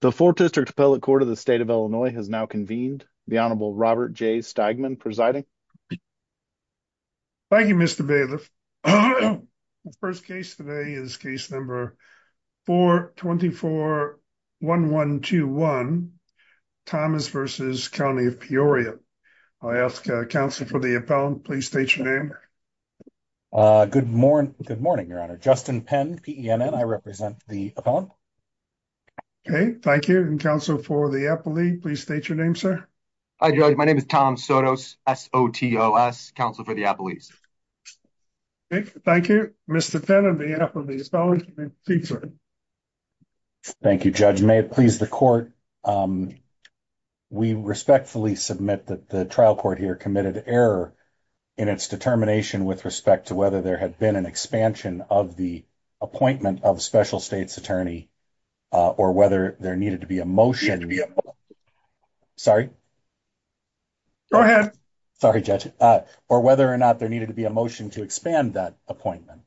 The 4th District Appellate Court of the State of Illinois has now convened. The Honorable Robert J. Steigman presiding. Thank you, Mr. Bailiff. The first case today is case number 4241121, Thomas v. County of Peoria. I ask counsel for the appellant. Please state your name. Good morning, your honor. Justin Penn, PENN. I represent the appellant. Okay, thank you. And counsel for the appellate, please state your name, sir. Hi, Judge. My name is Tom Sotos, S-O-T-O-S, counsel for the appellate. Thank you. Mr. Penn of the appellate. Thank you, Judge. May it please the court. We respectfully submit that the trial court here committed error in its determination with respect to whether there had been an expansion of the appointment of special states attorney or whether there needed to be a motion to be. Sorry. Go ahead. Sorry, Judge, or whether or not there needed to be a motion to expand that appointment.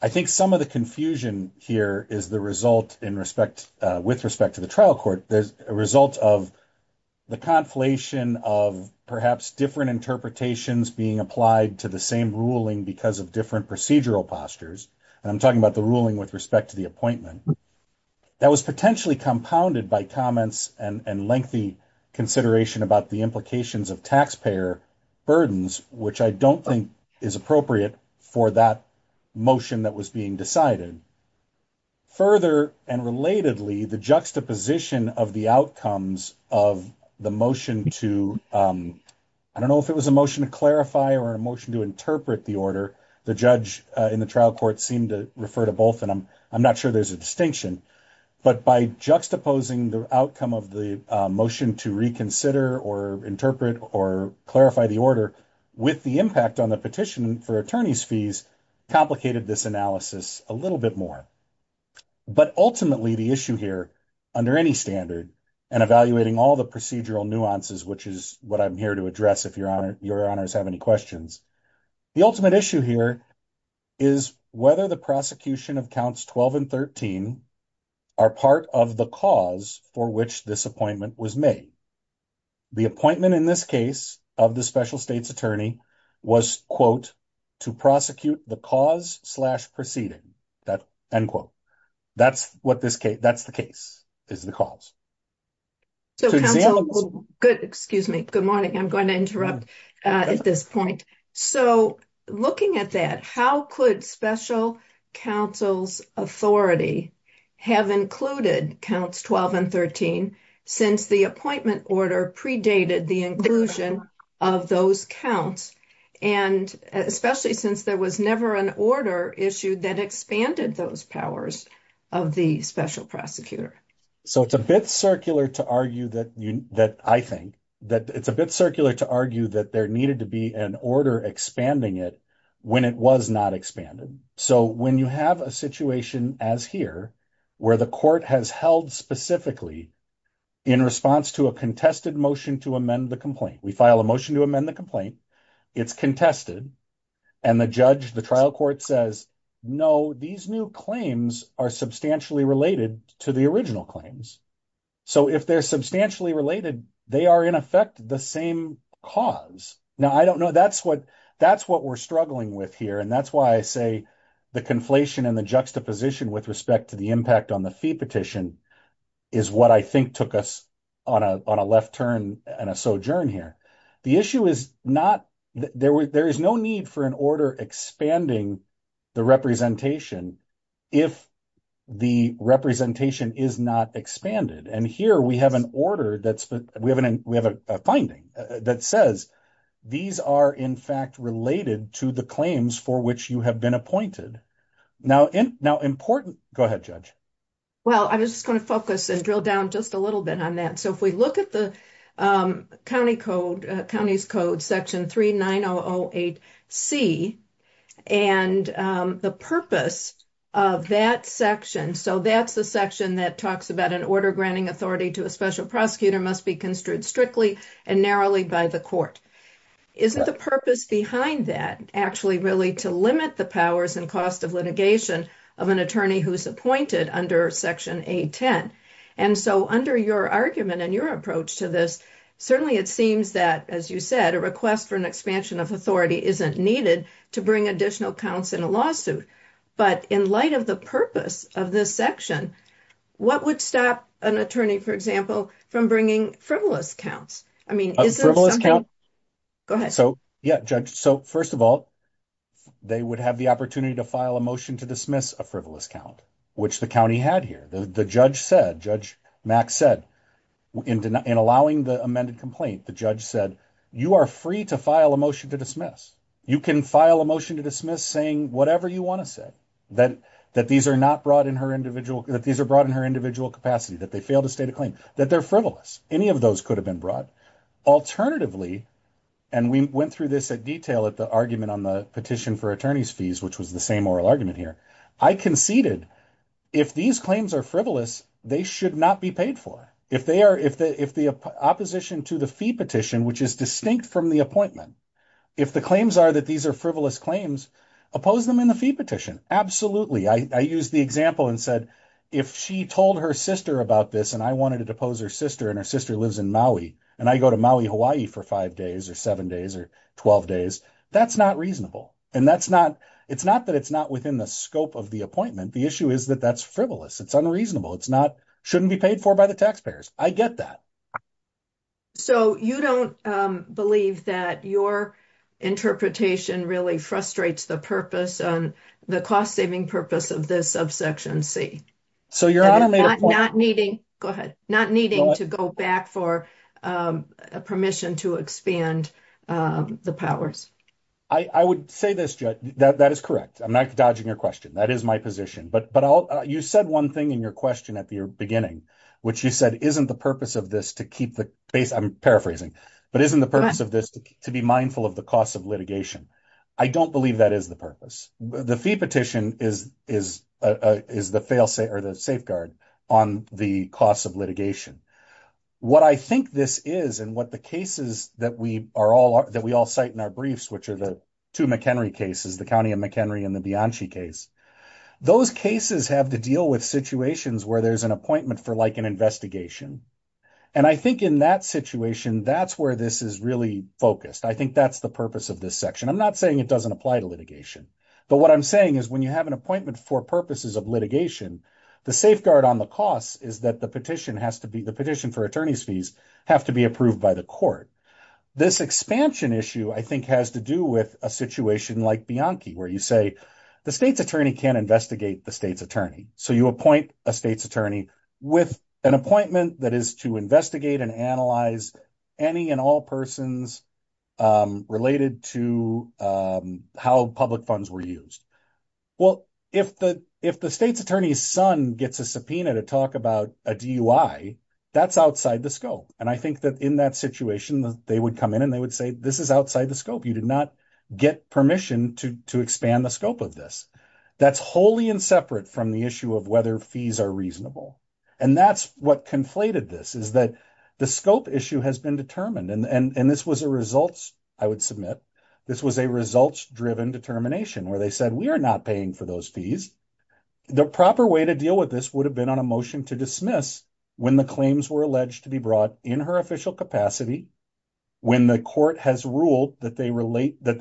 I think some of the confusion here is the result in respect with respect to the trial court. There's a result of the conflation of perhaps different interpretations being applied to the same ruling because of different procedural postures. And I'm talking about the ruling with respect to the appointment. That was potentially compounded by comments and lengthy consideration about the implications of taxpayer burdens, which I don't think is appropriate for that motion that was being decided. Further, and relatedly, the juxtaposition of the outcomes of the motion to, I don't know if it was a motion to clarify or a motion to interpret the order. The judge in the trial court seemed to refer to both, and I'm not sure there's a distinction. But by juxtaposing the outcome of the motion to reconsider or interpret or clarify the order with the impact on the petition for attorney's fees, complicated this analysis a little bit more. But ultimately, the issue here, under any standard, and evaluating all the procedural nuances, which is what I'm here to address if your honors have any questions. The ultimate issue here is whether the prosecution of counts 12 and 13 are part of the cause for which this appointment was made. The appointment in this case of the special state's attorney was, quote, to prosecute the cause slash proceeding. That's what this case, that's the case, is the cause. Good, excuse me. Good morning. I'm going to interrupt at this point. So, looking at that, how could special counsel's authority have included counts 12 and 13 since the appointment order predated the inclusion of those counts? And especially since there was never an order issued that expanded those powers of the special prosecutor. So, it's a bit circular to argue that, I think, that it's a bit circular to argue that there needed to be an order expanding it when it was not expanded. So, when you have a situation as here, where the court has held specifically in response to a contested motion to amend the complaint, we file a motion to amend the complaint. It's contested, and the judge, the trial court says, no, these new claims are substantially related to the original claims. So, if they're substantially related, they are, in effect, the same cause. Now, I don't know, that's what we're struggling with here, and that's why I say the conflation and the juxtaposition with respect to the impact on the fee petition is what I think took us on a left turn and a sojourn here. The issue is not, there is no need for an order expanding the representation if the representation is not expanded. And here, we have an order, we have a finding that says, these are, in fact, related to the claims for which you have been appointed. Now, important, go ahead, Judge. Well, I'm just going to focus and drill down just a little bit on that. So, if we look at the county's code, section 39008C, and the purpose of that section, so that's the section that talks about an order granting authority to a special prosecutor must be construed strictly and narrowly by the court. Isn't the purpose behind that actually really to limit the powers and cost of litigation of an attorney who's appointed under section 810? And so, under your argument and your approach to this, certainly it seems that, as you said, a request for an expansion of authority isn't needed to bring additional counts in a lawsuit. But in light of the purpose of this section, what would stop an attorney, for example, from bringing frivolous counts? I mean, is there something... A frivolous count? Go ahead. So, yeah, Judge, so first of all, they would have the opportunity to file a motion to dismiss a frivolous count, which the county had here. The judge said, Judge Mack said, in allowing the amended complaint, the judge said, you are free to file a motion to dismiss. You can file a motion to dismiss saying whatever you want to say, that these are brought in her individual capacity, that they failed to state a claim, that they're frivolous. Any of those could have been brought. Alternatively, and we went through this at detail at the argument on the petition for attorney's fees, which was the same oral argument here. I conceded, if these claims are frivolous, they should not be paid for. If the opposition to the fee petition, which is distinct from the appointment, if the claims are that these are frivolous claims, oppose them in the fee petition. Absolutely. I used the example and said, if she told her sister about this, and I wanted to depose her sister, and her sister lives in Maui, and I go to Maui, Hawaii for five days or seven days or 12 days, that's not reasonable. And that's not, it's not that it's not within the scope of the appointment. The issue is that that's frivolous. It's unreasonable. It's not, shouldn't be paid for by the taxpayers. I get that. So you don't believe that your interpretation really frustrates the purpose on the cost saving purpose of this subsection C. So you're not needing, go ahead, not needing to go back for permission to expand the powers. I would say this, Judd, that is correct. I'm not dodging your question. That is my position. But you said one thing in your question at the beginning, which you said isn't the purpose of this to keep the, I'm paraphrasing, but isn't the purpose of this to be mindful of the cost of litigation? I don't believe that is the purpose. The fee petition is the failsafe or the safeguard on the cost of litigation. What I think this is and what the cases that we all cite in our briefs, which are the two McHenry cases, the County of McHenry and the Bianchi case, those cases have to deal with situations where there's an appointment for like an investigation. And I think in that situation, that's where this is really focused. I think that's the purpose of this section. I'm not saying it doesn't apply to litigation. But what I'm saying is when you have an appointment for purposes of litigation, the safeguard on the cost is that the petition for attorney's fees have to be approved by the court. This expansion issue, I think, has to do with a situation like Bianchi, where you say the state's attorney can't investigate the state's attorney. So you appoint a state's attorney with an appointment that is to investigate and analyze any and all persons related to how public funds were used. Well, if the state's attorney's son gets a subpoena to talk about a DUI, that's outside the scope. And I think that in that situation, they would come in and they would say, this is outside the scope. You did not get permission to expand the scope of this. That's wholly and separate from the issue of whether fees are reasonable. And that's what conflated this, is that the scope issue has been determined. And this was a results, I would submit, this was a results-driven determination, where they said, we are not paying for those fees. The proper way to deal with this would have been on a motion to dismiss when the claims were alleged to be brought in her official capacity, when the court has ruled that they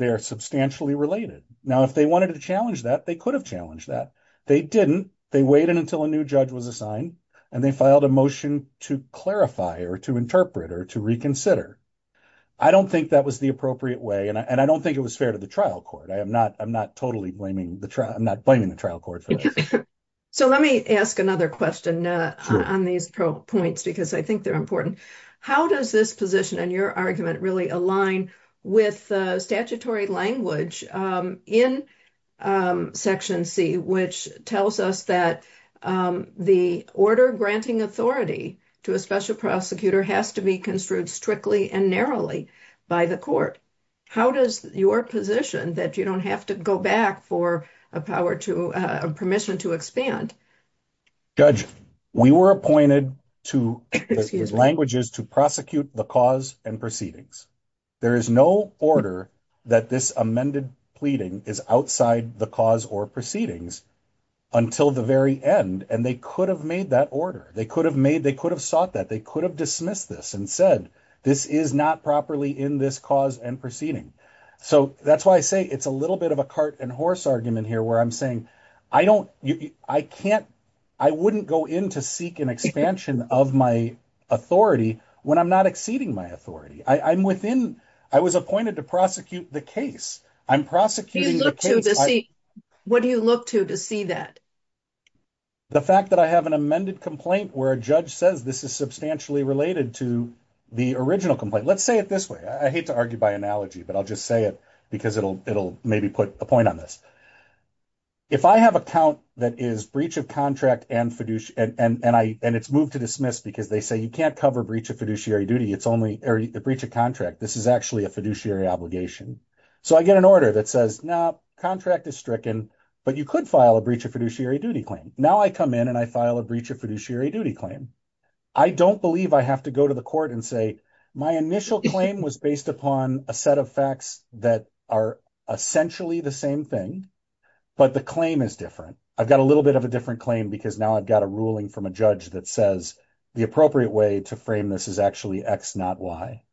are substantially related. Now, if they wanted to challenge that, they could have challenged that. They didn't. They waited until a new judge was assigned and they filed a motion to clarify or to interpret or to reconsider. I don't think that was the appropriate way. And I don't think it was fair to the trial court. I'm not totally blaming the trial. I'm not blaming the trial court. So let me ask another question on these points, because I think they're important. How does this position and your argument really align with statutory language in Section C, which tells us that the order granting authority to a special prosecutor has to be construed strictly and narrowly by the court? How does your position that you don't have to go back for a power to permission to expand? Judge, we were appointed to languages to prosecute the cause and proceedings. There is no order that this amended pleading is outside the cause or proceedings until the very end. And they could have made that order. They could have sought that. They could have dismissed this and said this is not properly in this cause and proceeding. So that's why I say it's a little bit of a cart and horse argument here where I'm saying I wouldn't go in to seek an expansion of my authority when I'm not exceeding my authority. I was appointed to prosecute the case. I'm prosecuting the case. What do you look to to see that? The fact that I have an amended complaint where a judge says this is substantially related to the original complaint. Let's say it this way. I hate to argue by analogy, but I'll just say it because it'll maybe put a point on this. If I have a count that is breach of contract and it's moved to dismiss because they say you can't cover breach of fiduciary duty, it's only a breach of contract. This is actually a fiduciary obligation. So I get an order that says, no, contract is stricken, but you could file a breach of fiduciary duty claim. Now I come in and I file a breach of fiduciary duty claim. I don't believe I have to go to the court and say my initial claim was based upon a set of facts that are essentially the same thing, but the claim is different. I've got a little bit of a different claim because now I've got a ruling from a judge that says the appropriate way to frame this is actually X, not Y.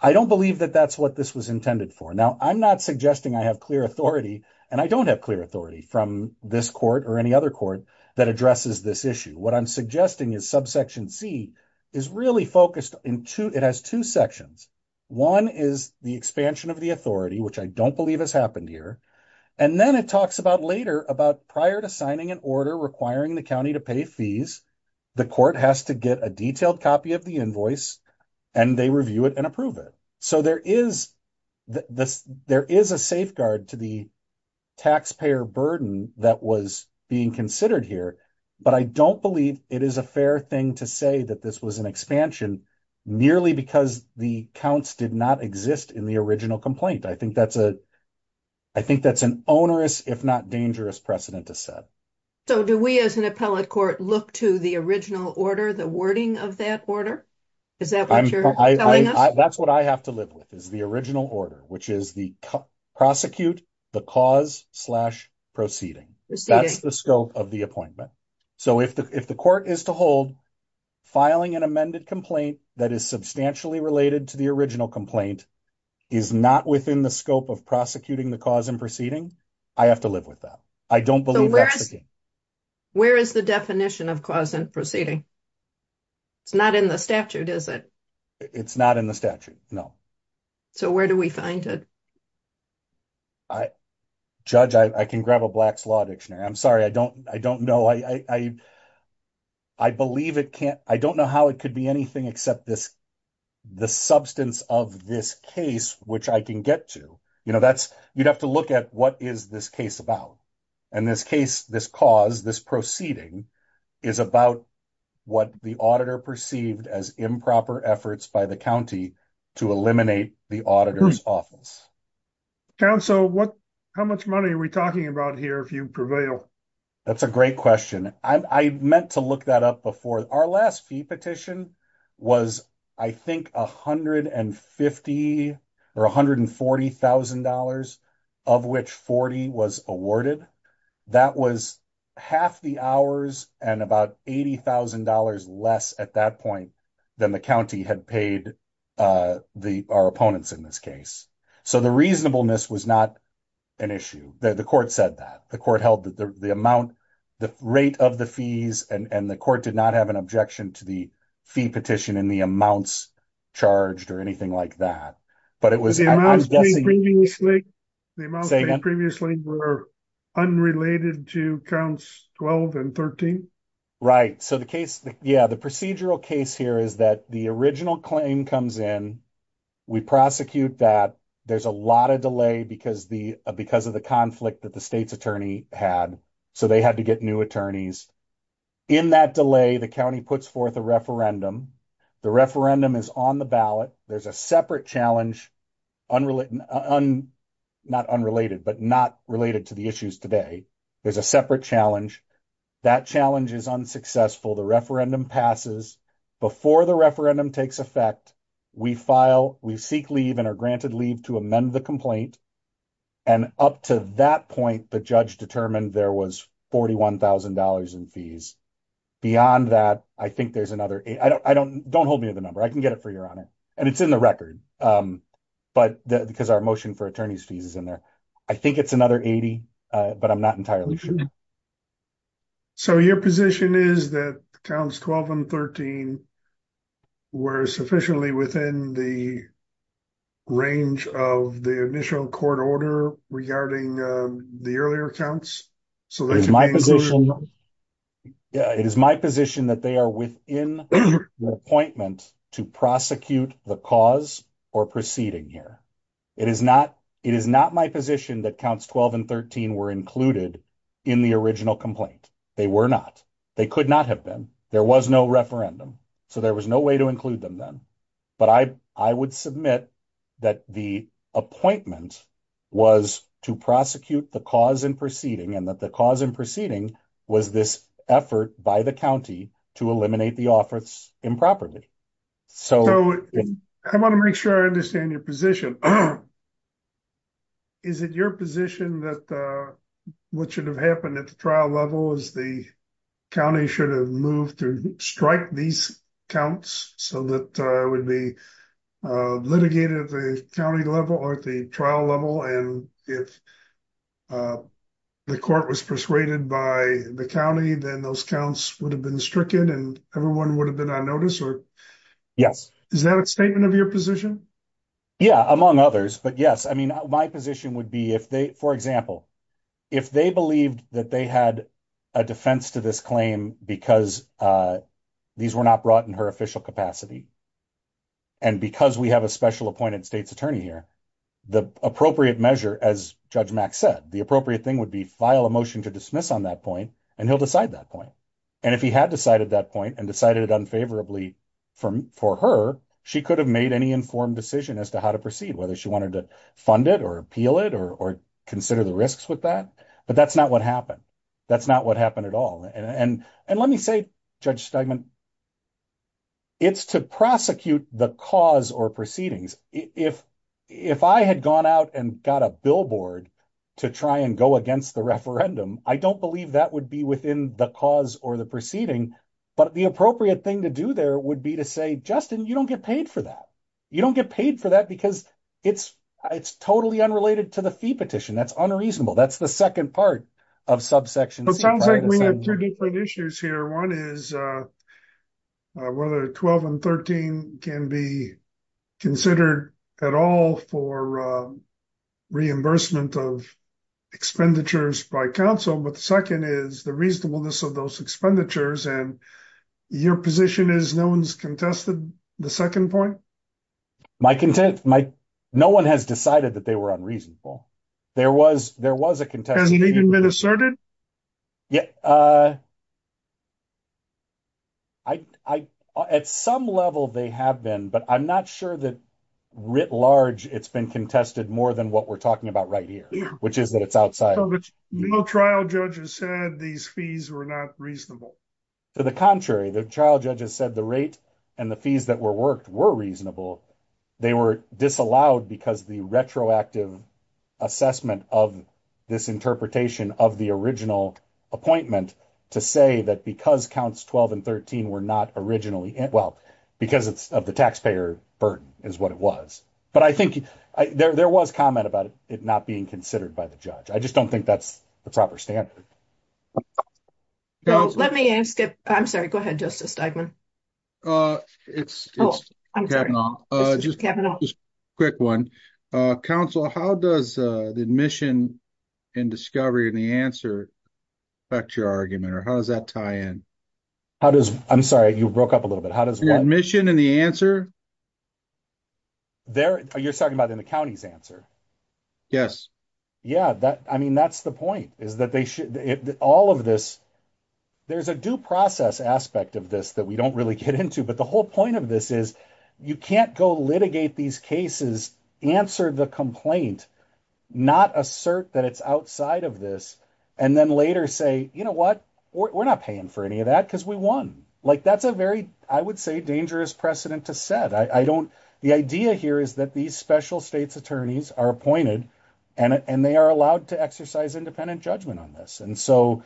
I don't believe that that's what this was intended for. Now, I'm not suggesting I have clear authority, and I don't have clear authority from this court or any other court that addresses this issue. What I'm suggesting is subsection C is really focused in two. It has two sections. One is the expansion of the authority, which I don't believe has happened here. And then it talks about later about prior to signing an order requiring the county to pay fees, the court has to get a detailed copy of the invoice, and they review it and approve it. So there is a safeguard to the taxpayer burden that was being considered here. But I don't believe it is a fair thing to say that this was an expansion merely because the counts did not exist in the original complaint. I think that's an onerous, if not dangerous precedent to set. So do we as an appellate court look to the original order, the wording of that order? Is that what you're telling us? That's what I have to live with is the original order, which is the prosecute the cause slash proceeding. That's the scope of the appointment. So if the court is to hold, filing an amended complaint that is substantially related to the original complaint is not within the scope of prosecuting the cause and proceeding, I have to live with that. I don't believe that's the case. Where is the definition of cause and proceeding? It's not in the statute, is it? It's not in the statute, no. So where do we find it? Judge, I can grab a Black's Law Dictionary. I'm sorry. I don't know. I believe it can't. I don't know how it could be anything except the substance of this case, which I can get to. You'd have to look at what is this case about. In this case, this cause, this proceeding is about what the auditor perceived as improper efforts by the county to eliminate the auditor's office. Counsel, what? How much money are we talking about here? If you prevail? That's a great question. I meant to look that up before. Our last fee petition was, I think, $150,000 or $140,000, of which $40,000 was awarded. That was half the hours and about $80,000 less at that point than the county had paid our opponents in this case. So the reasonableness was not an issue. The court said that. The court held that the amount, the rate of the fees, and the court did not have an objection to the fee petition and the amounts charged or anything like that. But it was. The amounts previously were unrelated to counts 12 and 13. Right. So the case, yeah, the procedural case here is that the original claim comes in. We prosecute that. There's a lot of delay because of the conflict that the state's attorney had. So they had to get new attorneys. In that delay, the county puts forth a referendum. The referendum is on the ballot. There's a separate challenge, not unrelated, but not related to the issues today. There's a separate challenge. That challenge is unsuccessful. The referendum passes. Before the referendum takes effect, we file, we seek leave and are granted leave to amend the complaint. And up to that point, the judge determined there was $41,000 in fees. Beyond that, I think there's another I don't don't hold me to the number. I can get it for you on it. And it's in the record. But because our motion for attorneys fees is in there. I think it's another 80, but I'm not entirely sure. So, your position is that counts 12 and 13. Were sufficiently within the range of the initial court order regarding the earlier accounts. So, it's my position. Yeah, it is my position that they are within the appointment to prosecute the cause or proceeding here. It is not my position that counts 12 and 13 were included in the original complaint. They were not. They could not have been. There was no referendum. So, there was no way to include them then. But I would submit that the appointment was to prosecute the cause and proceeding and that the cause and proceeding was this effort by the county to eliminate the office improperly. So, I want to make sure I understand your position. Is it your position that what should have happened at the trial level is the. County should have moved to strike these counts so that would be litigated the county level or the trial level and if. The court was persuaded by the county, then those counts would have been stricken and everyone would have been on notice or. Yes, is that a statement of your position? Yeah, among others, but, yes, I mean, my position would be if they, for example. If they believed that they had a defense to this claim, because these were not brought in her official capacity. And because we have a special appointed state's attorney here, the appropriate measure, as Judge Mack said, the appropriate thing would be file a motion to dismiss on that point and he'll decide that point. And if he had decided that point and decided it unfavorably for her, she could have made any informed decision as to how to proceed, whether she wanted to fund it or appeal it or consider the risks with that. But that's not what happened. That's not what happened at all. And let me say, Judge Steinman, it's to prosecute the cause or proceedings. If I had gone out and got a billboard to try and go against the referendum, I don't believe that would be within the cause or the proceeding. But the appropriate thing to do there would be to say, Justin, you don't get paid for that. You don't get paid for that because it's totally unrelated to the fee petition. That's unreasonable. That's the second part of subsection C. It sounds like we have two different issues here. One is whether 12 and 13 can be considered at all for reimbursement of expenditures by council. But the second is the reasonableness of those expenditures. And your position is no one's contested the second point? No one has decided that they were unreasonable. There was a contest. Hasn't even been asserted? At some level they have been, but I'm not sure that writ large it's been contested more than what we're talking about right here, which is that it's outside. No trial judges said these fees were not reasonable. To the contrary, the trial judges said the rate and the fees that were worked were reasonable. They were disallowed because the retroactive assessment of this interpretation of the original appointment to say that because counts 12 and 13 were not originally. Well, because it's of the taxpayer burden is what it was. But I think there was comment about it not being considered by the judge. I just don't think that's the proper standard. I'm sorry. Go ahead. Just a statement. It's just a quick 1 council. How does the admission. And discovery and the answer. Factor argument, or how does that tie in? How does I'm sorry, you broke up a little bit. How does the admission and the answer. There you're talking about in the county's answer. Yes, yeah, that I mean, that's the point is that they should all of this. There's a due process aspect of this that we don't really get into. But the whole point of this is you can't go litigate these cases, answer the complaint. Not assert that it's outside of this. And then later say, you know what? We're not paying for any of that because we won. Like, that's a very, I would say, dangerous precedent to set. I don't the idea here is that these special states attorneys are appointed. And they are allowed to exercise independent judgment on this. And so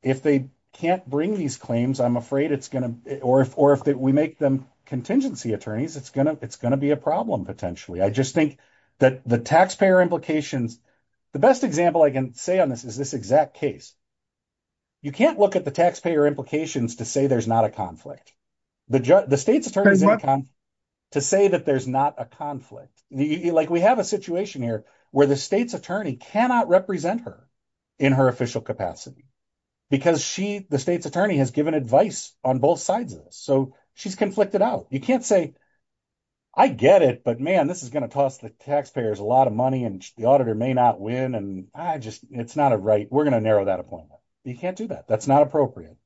if they can't bring these claims, I'm afraid it's going to, or if we make them contingency attorneys, it's going to be a problem. Potentially, I just think that the taxpayer implications. The best example I can say on this is this exact case. You can't look at the taxpayer implications to say there's not a conflict. The state's attorney is to say that there's not a conflict. Like, we have a situation here where the state's attorney cannot represent her in her official capacity. Because she, the state's attorney, has given advice on both sides of this. So she's conflicted out. You can't say, I get it, but, man, this is going to toss the taxpayers a lot of money and the auditor may not win. And I just, it's not a right. We're going to narrow that appointment. You can't do that. That's not appropriate.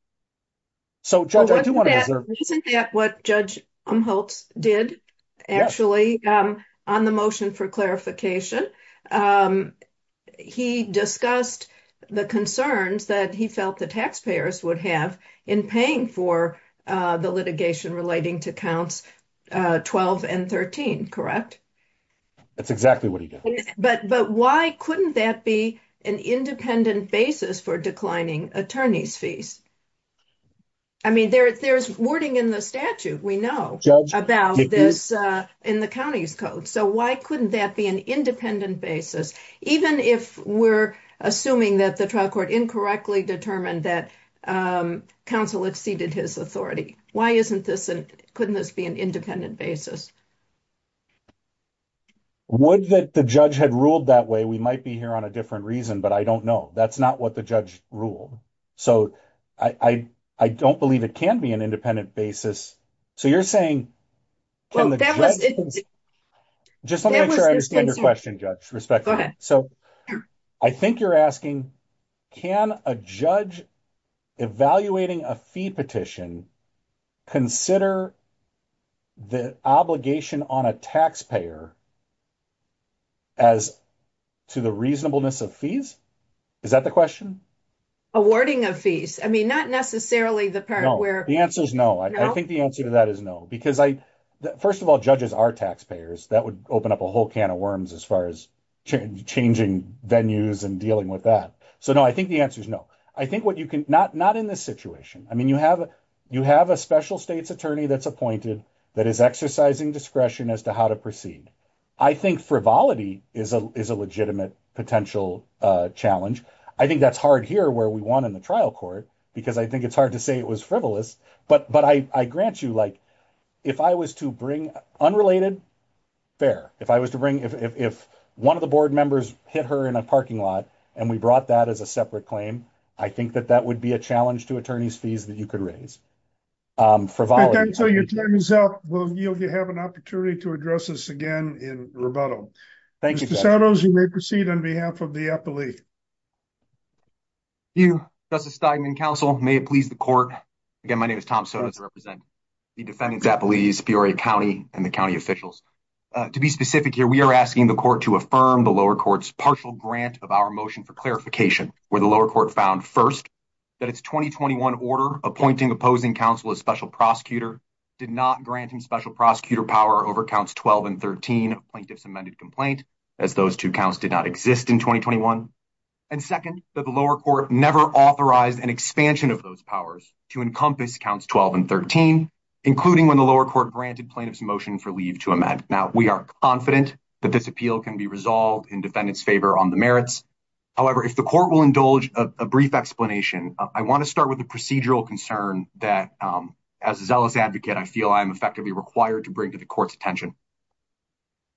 Isn't that what Judge Umholtz did, actually, on the motion for clarification? He discussed the concerns that he felt the taxpayers would have in paying for the litigation relating to counts 12 and 13, correct? That's exactly what he did. But why couldn't that be an independent basis for declining attorneys' fees? I mean, there's wording in the statute, we know, about this in the county's code. So why couldn't that be an independent basis, even if we're assuming that the trial court incorrectly determined that counsel exceeded his authority? Why isn't this, couldn't this be an independent basis? Would that the judge had ruled that way, we might be here on a different reason, but I don't know. That's not what the judge ruled. So I don't believe it can be an independent basis. So you're saying, can the judge, just let me make sure I understand your question, Judge, respectfully. So I think you're asking, can a judge evaluating a fee petition consider the obligation on a taxpayer as to the reasonableness of fees? Is that the question? Awarding of fees. I mean, not necessarily the part where... The answer is no. I think the answer to that is no. Because I, first of all, judges are taxpayers. That would open up a whole can of worms as far as changing venues and dealing with that. So no, I think the answer is no. I think what you can, not in this situation. I mean, you have a special states attorney that's appointed that is exercising discretion as to how to proceed. I think frivolity is a legitimate potential challenge. I think that's hard here where we won in the trial court, because I think it's hard to say it was frivolous. But I grant you, like, if I was to bring, unrelated, fair. If I was to bring, if one of the board members hit her in a parking lot and we brought that as a separate claim, I think that that would be a challenge to attorney's fees that you could raise. Your time is up. We'll yield you have an opportunity to address this again in rebuttal. Thank you. Mr. Sotos, you may proceed on behalf of the appellee. Thank you, Justice Steigman, counsel. May it please the court. Again, my name is Tom Sotos. I represent the defendants' appellees, Peoria County, and the county officials. To be specific here, we are asking the court to affirm the lower court's partial grant of our motion for clarification. Where the lower court found, first, that its 2021 order appointing opposing counsel a special prosecutor did not grant him special prosecutor power over counts 12 and 13 of plaintiff's amended complaint, as those two counts did not exist in 2021. And second, that the lower court never authorized an expansion of those powers to encompass counts 12 and 13, including when the lower court granted plaintiff's motion for leave to amend. Now, we are confident that this appeal can be resolved in defendant's favor on the merits. However, if the court will indulge a brief explanation, I want to start with the procedural concern that, as a zealous advocate, I feel I am effectively required to bring to the court's attention.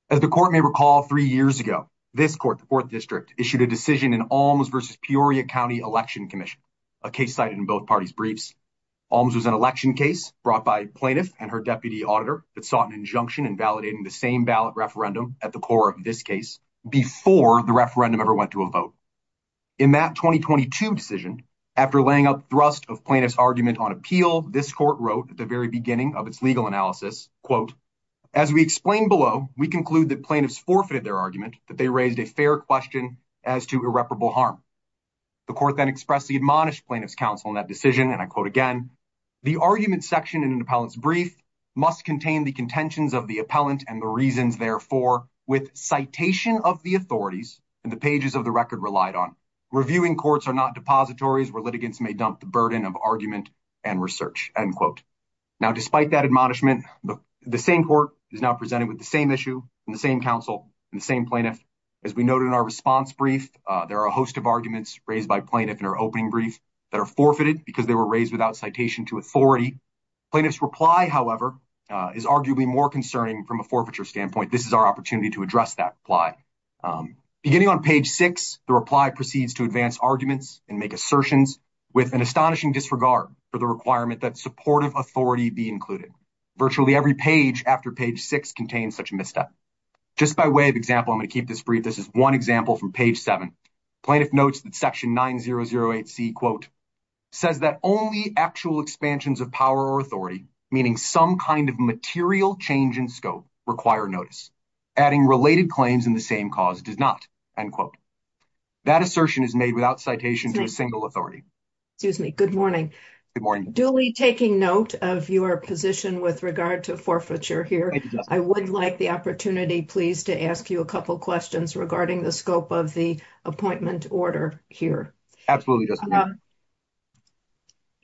As the court may recall three years ago, this court, the 4th District, issued a decision in Alms v. Peoria County Election Commission, a case cited in both parties' briefs. Alms was an election case brought by a plaintiff and her deputy auditor that sought an injunction invalidating the same ballot referendum at the core of this case before the referendum ever went to a vote. In that 2022 decision, after laying up thrust of plaintiff's argument on appeal, this court wrote at the very beginning of its legal analysis, quote, As we explain below, we conclude that plaintiffs forfeited their argument, that they raised a fair question as to irreparable harm. The court then expressed the admonished plaintiff's counsel in that decision, and I quote again, The argument section in an appellant's brief must contain the contentions of the appellant and the reasons, therefore, with citation of the authorities and the pages of the record relied on. Reviewing courts are not depositories where litigants may dump the burden of argument and research. End quote. Now, despite that admonishment, the same court is now presented with the same issue and the same counsel and the same plaintiff. As we noted in our response brief, there are a host of arguments raised by plaintiff in our opening brief that are forfeited because they were raised without citation to authority. Plaintiff's reply, however, is arguably more concerning from a forfeiture standpoint. This is our opportunity to address that lie beginning on page six. The reply proceeds to advance arguments and make assertions with an astonishing disregard for the requirement that supportive authority be included. Virtually every page after page six contains such a misstep. Just by way of example, I'm going to keep this brief. This is one example from page seven. Plaintiff notes that section 9008C, quote, says that only actual expansions of power or authority, meaning some kind of material change in scope, require notice. Adding related claims in the same cause does not. End quote. That assertion is made without citation to a single authority. Excuse me. Good morning. Good morning. Duly taking note of your position with regard to forfeiture here. I would like the opportunity, please, to ask you a couple questions regarding the scope of the appointment order here.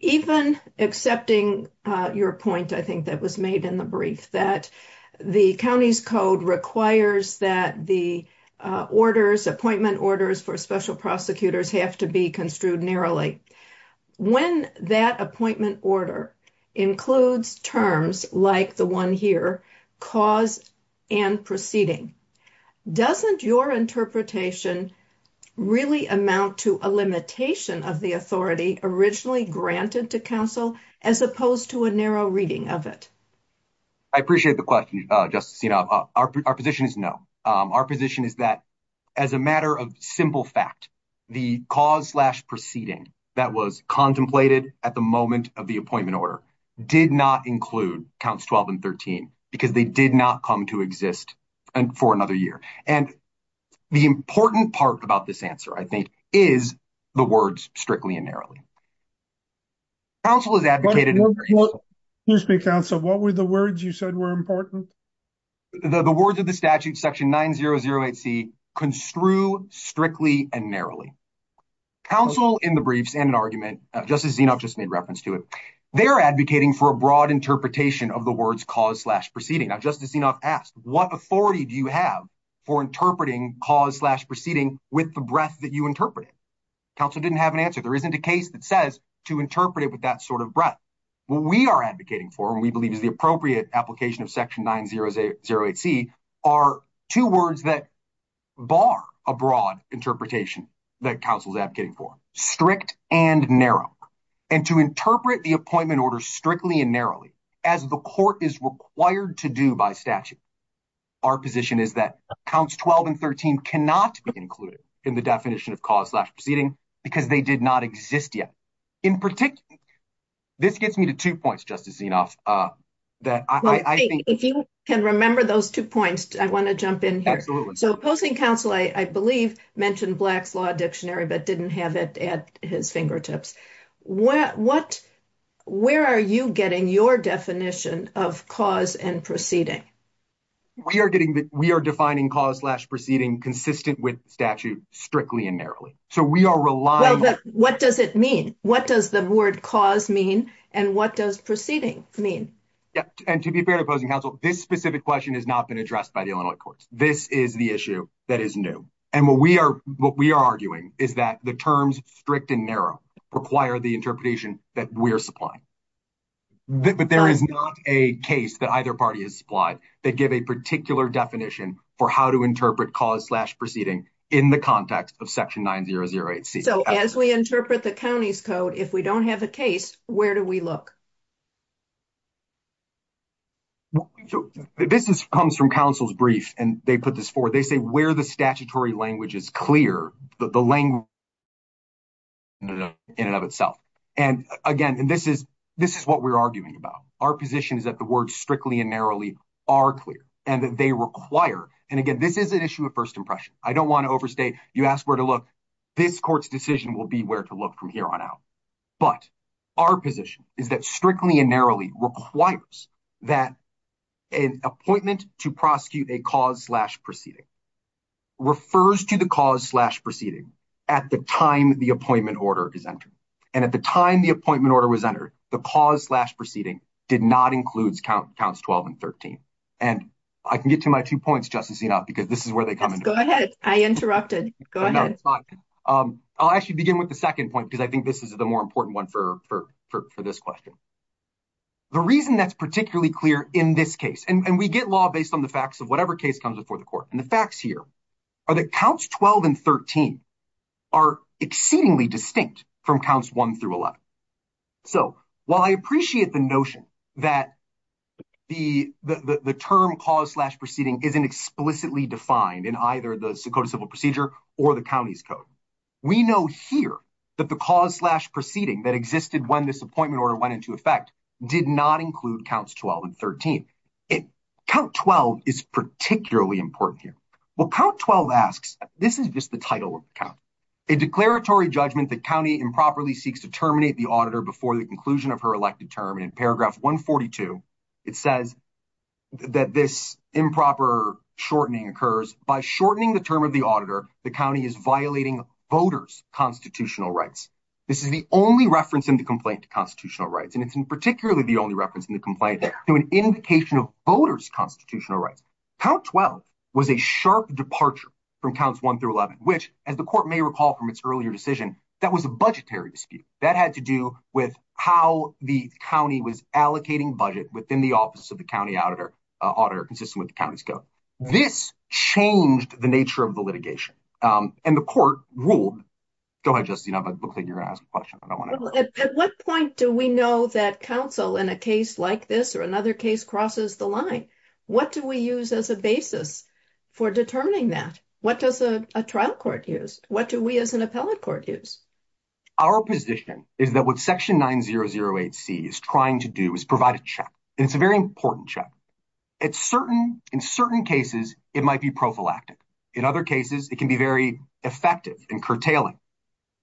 Even accepting your point, I think that was made in the brief that the county's code requires that the orders appointment orders for special prosecutors have to be construed narrowly. When that appointment order includes terms like the one here, cause and proceeding, doesn't your interpretation really amount to a limitation of the authority originally granted to counsel as opposed to a narrow reading of it? I appreciate the question. Our position is no. Our position is that as a matter of simple fact, the cause slash proceeding that was contemplated at the moment of the appointment order did not include counts 12 and 13 because they did not come to exist for another year. And the important part about this answer, I think, is the words strictly and narrowly. Counsel is advocated. You speak down. So what were the words you said were important? The words of the statute section 9008 C construe strictly and narrowly. Counsel in the briefs and an argument, just as you know, just made reference to it. They're advocating for a broad interpretation of the words cause slash proceeding. Now, just as you know, asked what authority do you have for interpreting cause slash proceeding with the breath that you interpret it. Counsel didn't have an answer. There isn't a case that says to interpret it with that sort of breath. We are advocating for, and we believe is the appropriate application of section 9008 C are two words that bar a broad interpretation that counsel is advocating for strict and narrow. And to interpret the appointment order strictly and narrowly as the court is required to do by statute. Our position is that counts 12 and 13 cannot be included in the definition of cause proceeding because they did not exist yet. In particular, this gets me to two points, just to see enough that I think if you can remember those two points, I want to jump in here. So opposing counsel, I believe mentioned Black's Law Dictionary, but didn't have it at his fingertips. What where are you getting your definition of cause and proceeding? We are getting that we are defining cause slash proceeding consistent with statute strictly and narrowly. So we are relying on what does it mean? What does the word cause mean? And what does proceeding mean? And to be fair to opposing counsel, this specific question has not been addressed by the Illinois courts. This is the issue that is new. And what we are arguing is that the terms strict and narrow require the interpretation that we are supplying. But there is not a case that either party has supplied that give a particular definition for how to interpret cause slash proceeding in the context of section 9008 C. So as we interpret the county's code, if we don't have a case, where do we look? So this comes from counsel's brief, and they put this forward. They say where the statutory language is clear, the language in and of itself. And, again, this is what we are arguing about. Our position is that the words strictly and narrowly are clear and that they require. And, again, this is an issue of first impression. I don't want to overstate. You ask where to look. This court's decision will be where to look from here on out. But our position is that strictly and narrowly requires that an appointment to prosecute a cause slash proceeding refers to the cause slash proceeding at the time the appointment order is entered. And at the time the appointment order was entered, the cause slash proceeding did not include counts 12 and 13. And I can get to my two points, Justice Enoff, because this is where they come in. Go ahead. I interrupted. Go ahead. I'll actually begin with the second point, because I think this is the more important one for this question. The reason that's particularly clear in this case, and we get law based on the facts of whatever case comes before the court, and the facts here are that counts 12 and 13 are exceedingly distinct from counts 1 through 11. So, while I appreciate the notion that the term cause slash proceeding isn't explicitly defined in either the Sakota Civil Procedure or the county's code, we know here that the cause slash proceeding that existed when this appointment order went into effect did not include counts 12 and 13. Count 12 is particularly important here. Well, count 12 asks, this is just the title of the count. A declaratory judgment the county improperly seeks to terminate the auditor before the conclusion of her elected term. And in paragraph 142, it says that this improper shortening occurs. By shortening the term of the auditor, the county is violating voters' constitutional rights. This is the only reference in the complaint to constitutional rights. And it's particularly the only reference in the complaint to an indication of voters' constitutional rights. Count 12 was a sharp departure from counts 1 through 11, which, as the court may recall from its earlier decision, that was a budgetary dispute. That had to do with how the county was allocating budget within the office of the county auditor, auditor consistent with the county's code. This changed the nature of the litigation. And the court ruled. Go ahead, Justine. It looks like you're going to ask a question. At what point do we know that counsel in a case like this or another case crosses the line? What do we use as a basis for determining that? What does a trial court use? What do we as an appellate court use? Our position is that what section 9008C is trying to do is provide a check. And it's a very important check. In certain cases, it might be prophylactic. In other cases, it can be very effective and curtailing.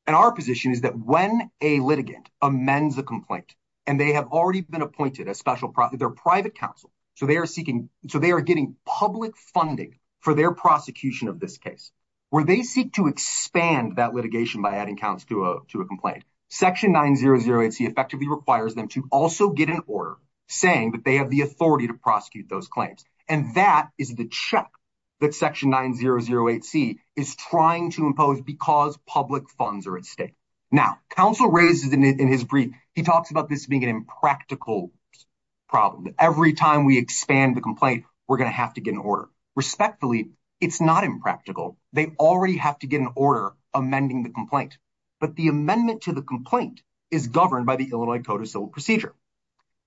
And our position is that when a litigant amends a complaint and they have already been appointed a special private counsel, so they are seeking so they are getting public funding for their prosecution of this case, where they seek to expand that litigation by adding counts to a complaint, section 9008C effectively requires them to also get an order saying that they have the authority to prosecute those claims. And that is the check that section 9008C is trying to impose because public funds are at stake. Now, counsel raises in his brief, he talks about this being an impractical problem. Every time we expand the complaint, we're going to have to get an order. Respectfully, it's not impractical. They already have to get an order amending the complaint. But the amendment to the complaint is governed by the Illinois Code of Civil Procedure.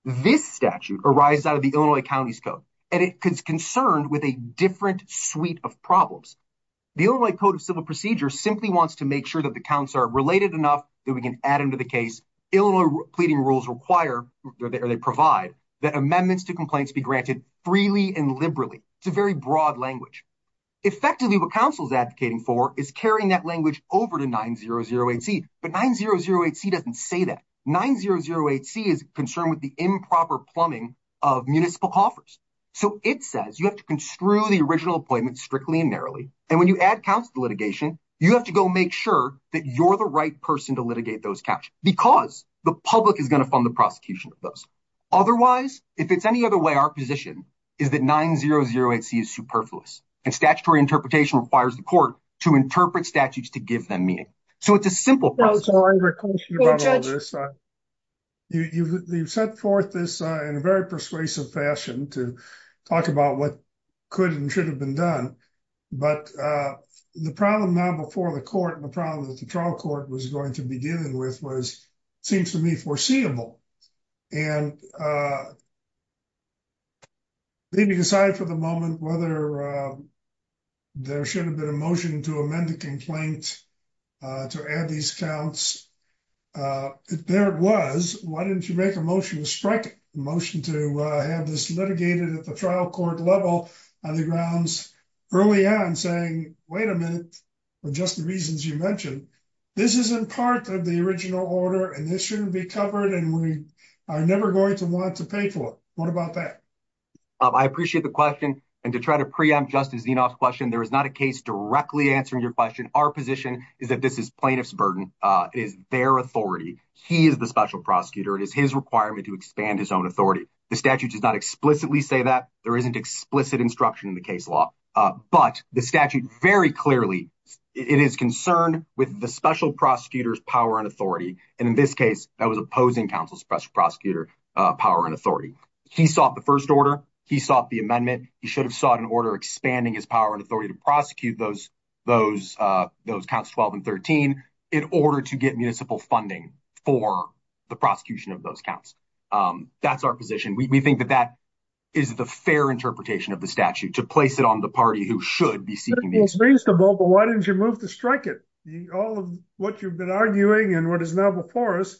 This statute arises out of the Illinois County's code, and it is concerned with a different suite of problems. The Illinois Code of Civil Procedure simply wants to make sure that the counts are related enough that we can add them to the case. Illinois pleading rules require, or they provide, that amendments to complaints be granted freely and liberally. It's a very broad language. Effectively, what counsel is advocating for is carrying that language over to 9008C. But 9008C doesn't say that. 9008C is concerned with the improper plumbing of municipal coffers. So it says you have to construe the original appointment strictly and narrowly, and when you add counts to litigation, you have to go make sure that you're the right person to litigate those counts because the public is going to fund the prosecution of those. Otherwise, if it's any other way, our position is that 9008C is superfluous, and statutory interpretation requires the court to interpret statutes to give them meaning. So it's a simple process. Thank you, Judge. You've set forth this in a very persuasive fashion to talk about what could and should have been done. But the problem now before the court, the problem that the trial court was going to begin with, seems to me foreseeable. And leaving aside for the moment whether there should have been a motion to amend the complaint to add these counts, there it was. Why didn't you make a motion to strike a motion to have this litigated at the trial court level on the grounds early on saying, wait a minute, for just the reasons you mentioned. This isn't part of the original order, and this shouldn't be covered, and we are never going to want to pay for it. What about that? I appreciate the question. And to try to preempt Justice Zinoff's question, there is not a case directly answering your question. Our position is that this is plaintiff's burden. It is their authority. He is the special prosecutor. It is his requirement to expand his own authority. The statute does not explicitly say that. There isn't explicit instruction in the case law. But the statute very clearly, it is concerned with the special prosecutor's power and authority. And in this case, that was opposing counsel's special prosecutor power and authority. He sought the first order. He sought the amendment. He should have sought an order expanding his power and authority to prosecute those counts 12 and 13 in order to get municipal funding for the prosecution of those counts. That's our position. We think that that is the fair interpretation of the statute, to place it on the party who should be seeking the amendment. It's reasonable, but why didn't you move to strike it? All of what you've been arguing and what is now before us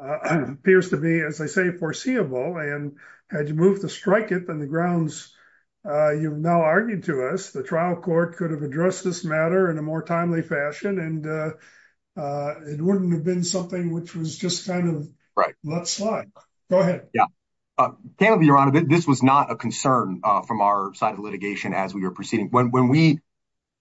appears to be, as I say, foreseeable. And had you moved to strike it on the grounds you've now argued to us, the trial court could have addressed this matter in a more timely fashion, and it wouldn't have been something which was just kind of let slide. Go ahead. Your Honor, this was not a concern from our side of litigation as we were proceeding. When we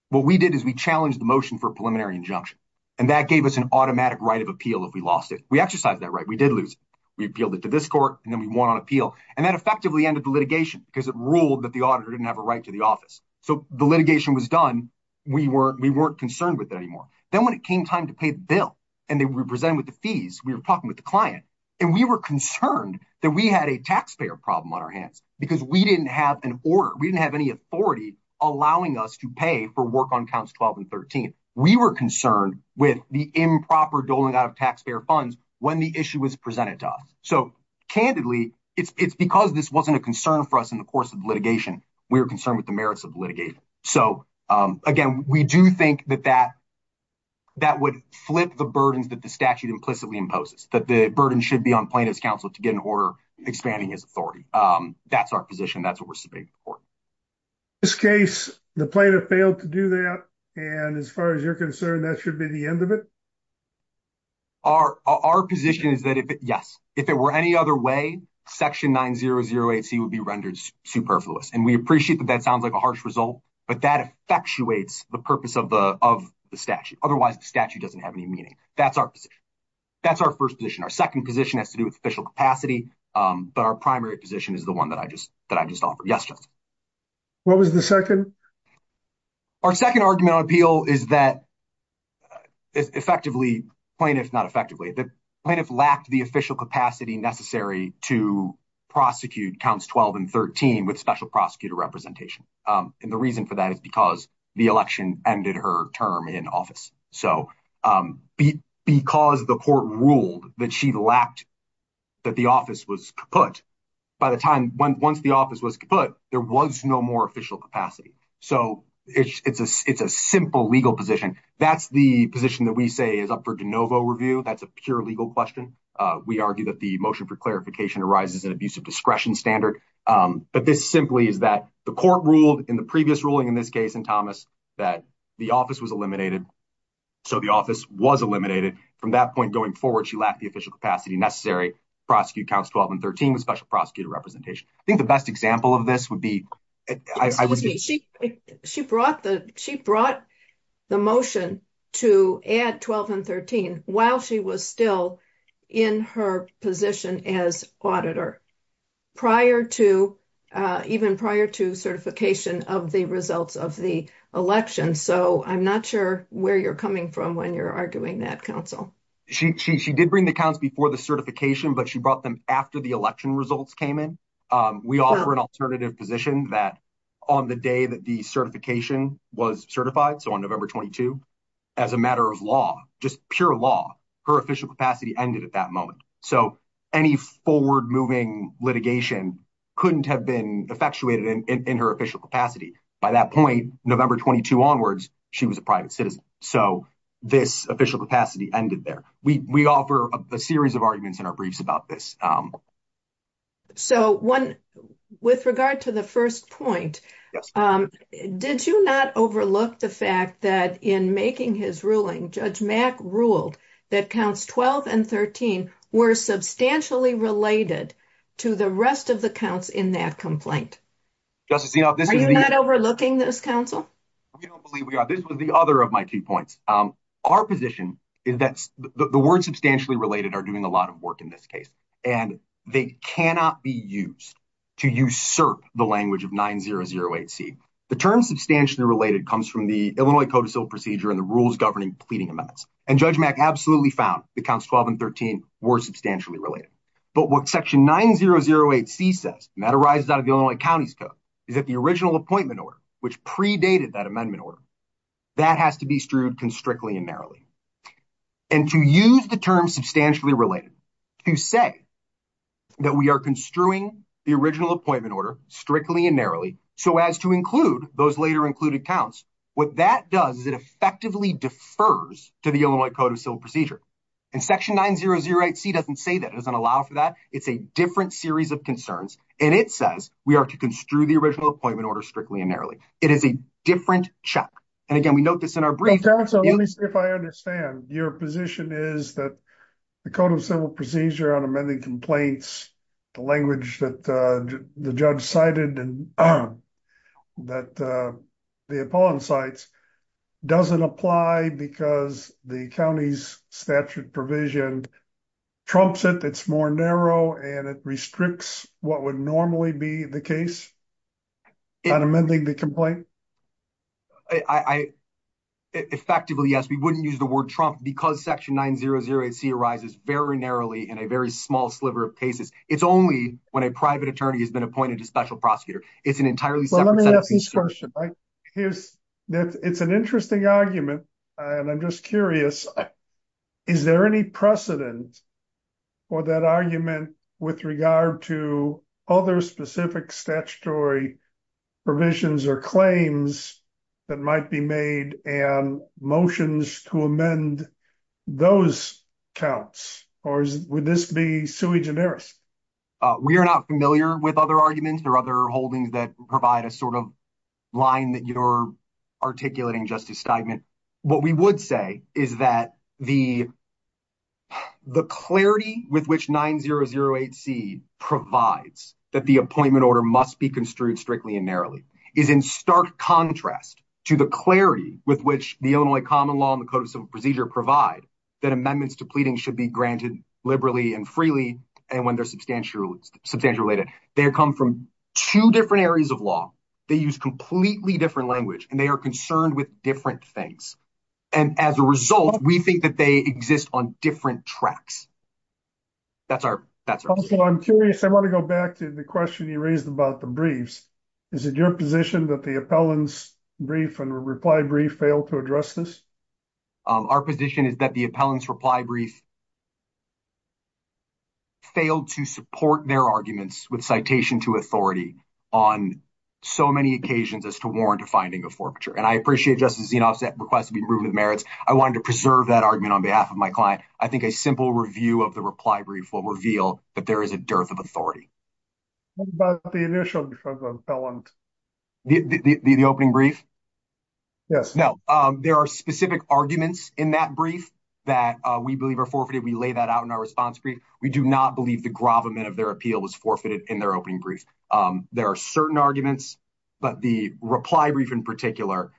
what we did is we challenged the motion for preliminary injunction, and that gave us an automatic right of appeal. If we lost it, we exercised that right. We did lose. We appealed it to this court, and then we won on appeal. And that effectively ended the litigation because it ruled that the auditor didn't have a right to the office. So the litigation was done. We weren't we weren't concerned with it anymore. Then when it came time to pay the bill and they were presented with the fees, we were talking with the client, and we were concerned that we had a taxpayer problem on our hands because we didn't have an order. We didn't have any authority allowing us to pay for work on counts 12 and 13. We were concerned with the improper doling out of taxpayer funds when the issue was presented to us. So candidly, it's because this wasn't a concern for us in the course of litigation. We were concerned with the merits of litigation. So, again, we do think that that would flip the burdens that the statute implicitly imposes, that the burden should be on plaintiff's counsel to get an order expanding his authority. That's our position. That's what we're speaking for. This case, the plaintiff failed to do that. And as far as you're concerned, that should be the end of it. Our our position is that, yes, if it were any other way, Section 9008C would be rendered superfluous. And we appreciate that that sounds like a harsh result, but that effectuates the purpose of the of the statute. Otherwise, the statute doesn't have any meaning. That's our position. That's our first position. Our second position has to do with official capacity. But our primary position is the one that I just that I just offered. Yes. What was the second? Our second argument on appeal is that effectively plaintiff, not effectively, the plaintiff lacked the official capacity necessary to prosecute counts 12 and 13 with special prosecutor representation. And the reason for that is because the election ended her term in office. So because the court ruled that she lacked that the office was put by the time once the office was put, there was no more official capacity. So it's a it's a simple legal position. That's the position that we say is up for de novo review. That's a pure legal question. We argue that the motion for clarification arises in abuse of discretion standard. But this simply is that the court ruled in the previous ruling in this case in Thomas that the office was eliminated. So the office was eliminated from that point going forward. She lacked the official capacity necessary prosecute counts 12 and 13 with special prosecutor representation. I think the best example of this would be. She brought the she brought the motion to add 12 and 13 while she was still in her position as auditor prior to even prior to certification of the results of the election. So I'm not sure where you're coming from when you're arguing that council. She did bring the counts before the certification, but she brought them after the election results came in. We offer an alternative position that on the day that the certification was certified. So on November 22, as a matter of law, just pure law, her official capacity ended at that moment. So any forward moving litigation couldn't have been effectuated in her official capacity. By that point, November 22 onwards, she was a private citizen. So this official capacity ended there. We offer a series of arguments in our briefs about this. So one with regard to the first point, did you not overlook the fact that in making his ruling, Judge Mac ruled that counts 12 and 13 were substantially related to the rest of the counts in that complaint? Just to see how this is not overlooking this council. We don't believe we are. This was the other of my key points. Our position is that the words substantially related are doing a lot of work in this case, and they cannot be used to usurp the language of 9008C. The term substantially related comes from the Illinois code of civil procedure and the rules governing pleading amendments. And Judge Mac absolutely found the counts 12 and 13 were substantially related. But what section 9008C says, and that arises out of the Illinois county's code, is that the original appointment order, which predated that amendment order, that has to be strewed constrictly and narrowly. And to use the term substantially related, to say that we are construing the original appointment order strictly and narrowly so as to include those later included counts, what that does is it effectively defers to the Illinois code of civil procedure. And section 9008C doesn't say that. It doesn't allow for that. It's a different series of concerns. And it says we are to construe the original appointment order strictly and narrowly. It is a different check. And again, we note this in our brief. If I understand, your position is that the code of civil procedure on amending complaints, the language that the judge cited and that the opponent cites, doesn't apply because the county's statute provision trumps it. It's more narrow and it restricts what would normally be the case on amending the complaint? Effectively, yes. We wouldn't use the word trump because section 9008C arises very narrowly in a very small sliver of cases. It's only when a private attorney has been appointed a special prosecutor. It's an entirely separate sentence. It's an interesting argument. And I'm just curious, is there any precedent for that argument with regard to other specific statutory provisions or claims that might be made and motions to amend those counts? Or would this be sui generis? We are not familiar with other arguments or other holdings that provide a sort of line that you're articulating justice statement. And what we would say is that the clarity with which 9008C provides that the appointment order must be construed strictly and narrowly is in stark contrast to the clarity with which the Illinois common law and the code of civil procedure provide that amendments to pleading should be granted liberally and freely and when they're substantially related. They come from two different areas of law. They use completely different language. And they are concerned with different things. And as a result, we think that they exist on different tracks. That's our question. I'm curious. I want to go back to the question you raised about the briefs. Is it your position that the appellant's brief and reply brief failed to address this? Our position is that the appellant's reply brief failed to support their arguments with citation to authority on so many occasions as to warrant a finding of forfeiture. And I appreciate Justice Zinoff's request to be proven with merits. I wanted to preserve that argument on behalf of my client. I think a simple review of the reply brief will reveal that there is a dearth of authority. What about the initial brief of the appellant? The opening brief? Yes. No. There are specific arguments in that brief that we believe are forfeited. We lay that out in our response brief. We do not believe the gravamen of their appeal was forfeited in their opening brief. There are certain arguments, but the reply brief in particular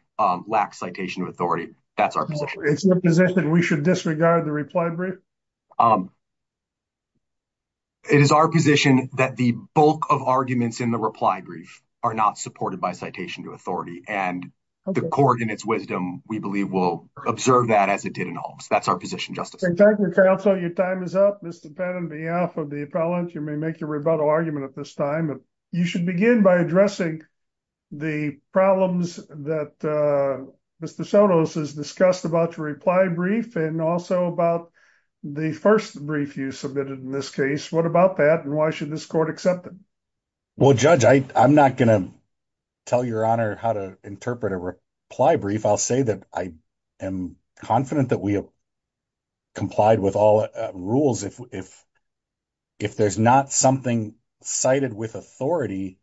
lacks citation to authority. That's our position. Is it your position that we should disregard the reply brief? It is our position that the bulk of arguments in the reply brief are not supported by citation to authority. And the court in its wisdom, we believe, will observe that as it did in Holmes. That's our position, Justice. Thank you, counsel. Your time is up. Mr. Penn, on behalf of the appellant, you may make your rebuttal argument at this time. You should begin by addressing the problems that Mr. Sonos has discussed about your reply brief and also about the first brief you submitted in this case. What about that, and why should this court accept it? Well, Judge, I'm not going to tell Your Honor how to interpret a reply brief. I'll say that I am confident that we have complied with all rules. If there's not something cited with authority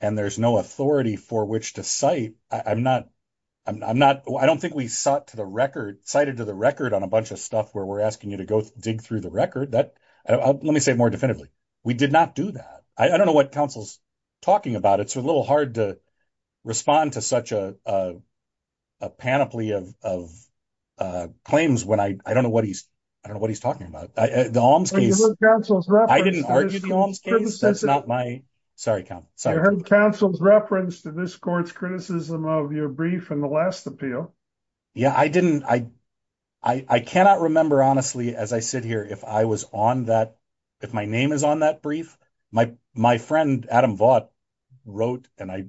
and there's no authority for which to cite, I don't think we cited to the record on a bunch of stuff where we're asking you to go dig through the record. Let me say it more definitively. We did not do that. I don't know what counsel's talking about. It's a little hard to respond to such a panoply of claims when I don't know what he's talking about. The Holmes case, I didn't argue the Holmes case. That's not my – sorry, counsel. You heard counsel's reference to this court's criticism of your brief in the last appeal. Yeah, I didn't – I cannot remember honestly as I sit here if I was on that – if my name is on that brief. My friend, Adam Vaught, wrote and I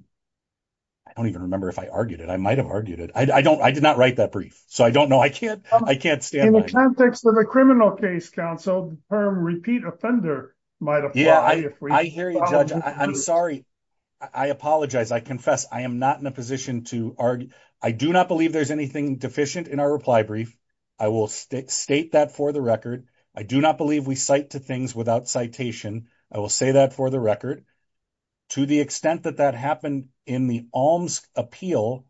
don't even remember if I argued it. I might have argued it. I did not write that brief, so I don't know. I can't stand by it. In the context of a criminal case, counsel, the term repeat offender might apply. Yeah, I hear you, Judge. I'm sorry. I apologize. I confess. I am not in a position to argue. I do not believe there's anything deficient in our reply brief. I will state that for the record. I do not believe we cite to things without citation. I will say that for the record. To the extent that that happened in the Holmes appeal,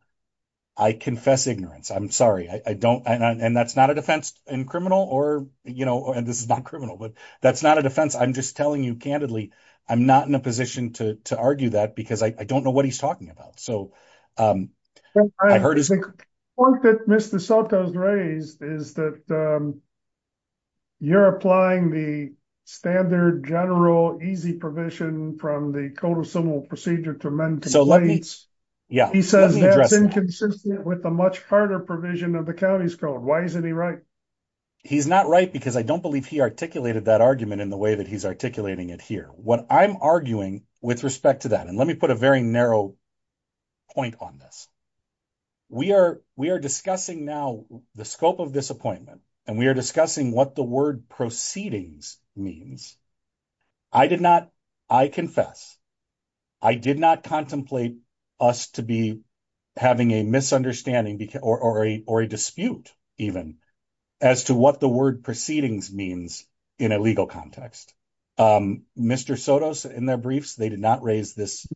I confess ignorance. I'm sorry. I don't – and that's not a defense in criminal or, you know, and this is not criminal, but that's not a defense. I'm just telling you candidly I'm not in a position to argue that because I don't know what he's talking about. The point that Mr. Soto has raised is that you're applying the standard general easy provision from the Code of Civil Procedure to amend complaints. He says that's inconsistent with the much harder provision of the county's code. Why isn't he right? He's not right because I don't believe he articulated that argument in the way that he's articulating it here. What I'm arguing with respect to that, and let me put a very narrow point on this, we are discussing now the scope of this appointment, and we are discussing what the word proceedings means. I did not – I confess I did not contemplate us to be having a misunderstanding or a dispute even as to what the word proceedings means in a legal context. Mr. Soto, in their briefs, they did not raise this,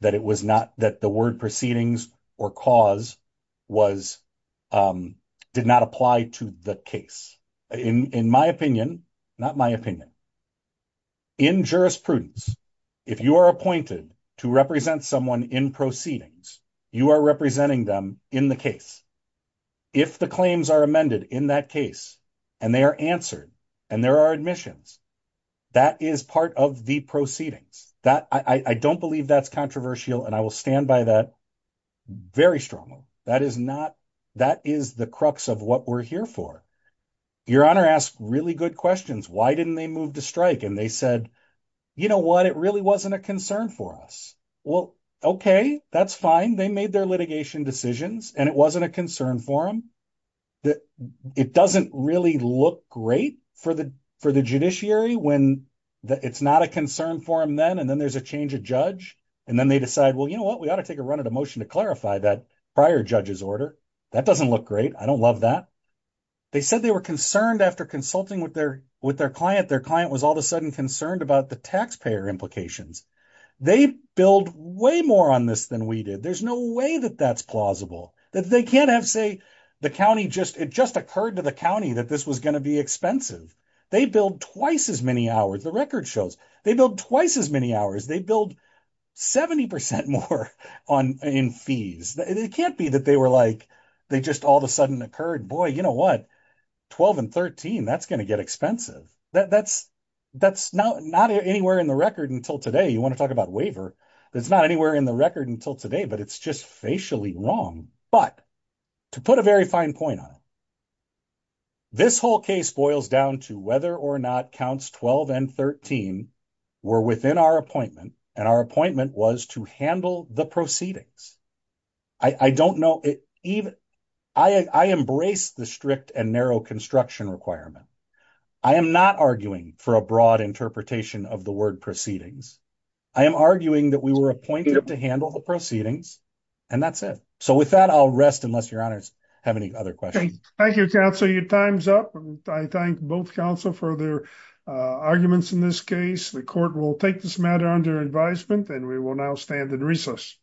that it was not – that the word proceedings or cause was – did not apply to the case. In my opinion – not my opinion – in jurisprudence, if you are appointed to represent someone in proceedings, you are representing them in the case. If the claims are amended in that case, and they are answered, and there are admissions, that is part of the proceedings. That – I don't believe that's controversial, and I will stand by that very strongly. That is not – that is the crux of what we're here for. Your Honor asked really good questions. Why didn't they move to strike? And they said, you know what, it really wasn't a concern for us. Well, okay, that's fine. They made their litigation decisions, and it wasn't a concern for them. It doesn't really look great for the judiciary when it's not a concern for them then, and then there's a change of judge. And then they decide, well, you know what, we ought to take a run at a motion to clarify that prior judge's order. That doesn't look great. I don't love that. They said they were concerned after consulting with their client. Their client was all of a sudden concerned about the taxpayer implications. They billed way more on this than we did. There's no way that that's plausible. They can't have, say, the county just – it just occurred to the county that this was going to be expensive. They billed twice as many hours, the record shows. They billed twice as many hours. They billed 70 percent more in fees. It can't be that they were like – they just all of a sudden occurred, boy, you know what, 12 and 13, that's going to get expensive. That's not anywhere in the record until today. You want to talk about waiver, it's not anywhere in the record until today, but it's just facially wrong. But to put a very fine point on it, this whole case boils down to whether or not counts 12 and 13 were within our appointment, and our appointment was to handle the proceedings. I don't know – I embrace the strict and narrow construction requirement. I am not arguing for a broad interpretation of the word proceedings. I am arguing that we were appointed to handle the proceedings, and that's it. So with that, I'll rest unless your honors have any other questions. Thank you, counsel. Your time's up. I thank both counsel for their arguments in this case. The court will take this matter under advisement, and we will now stand in recess.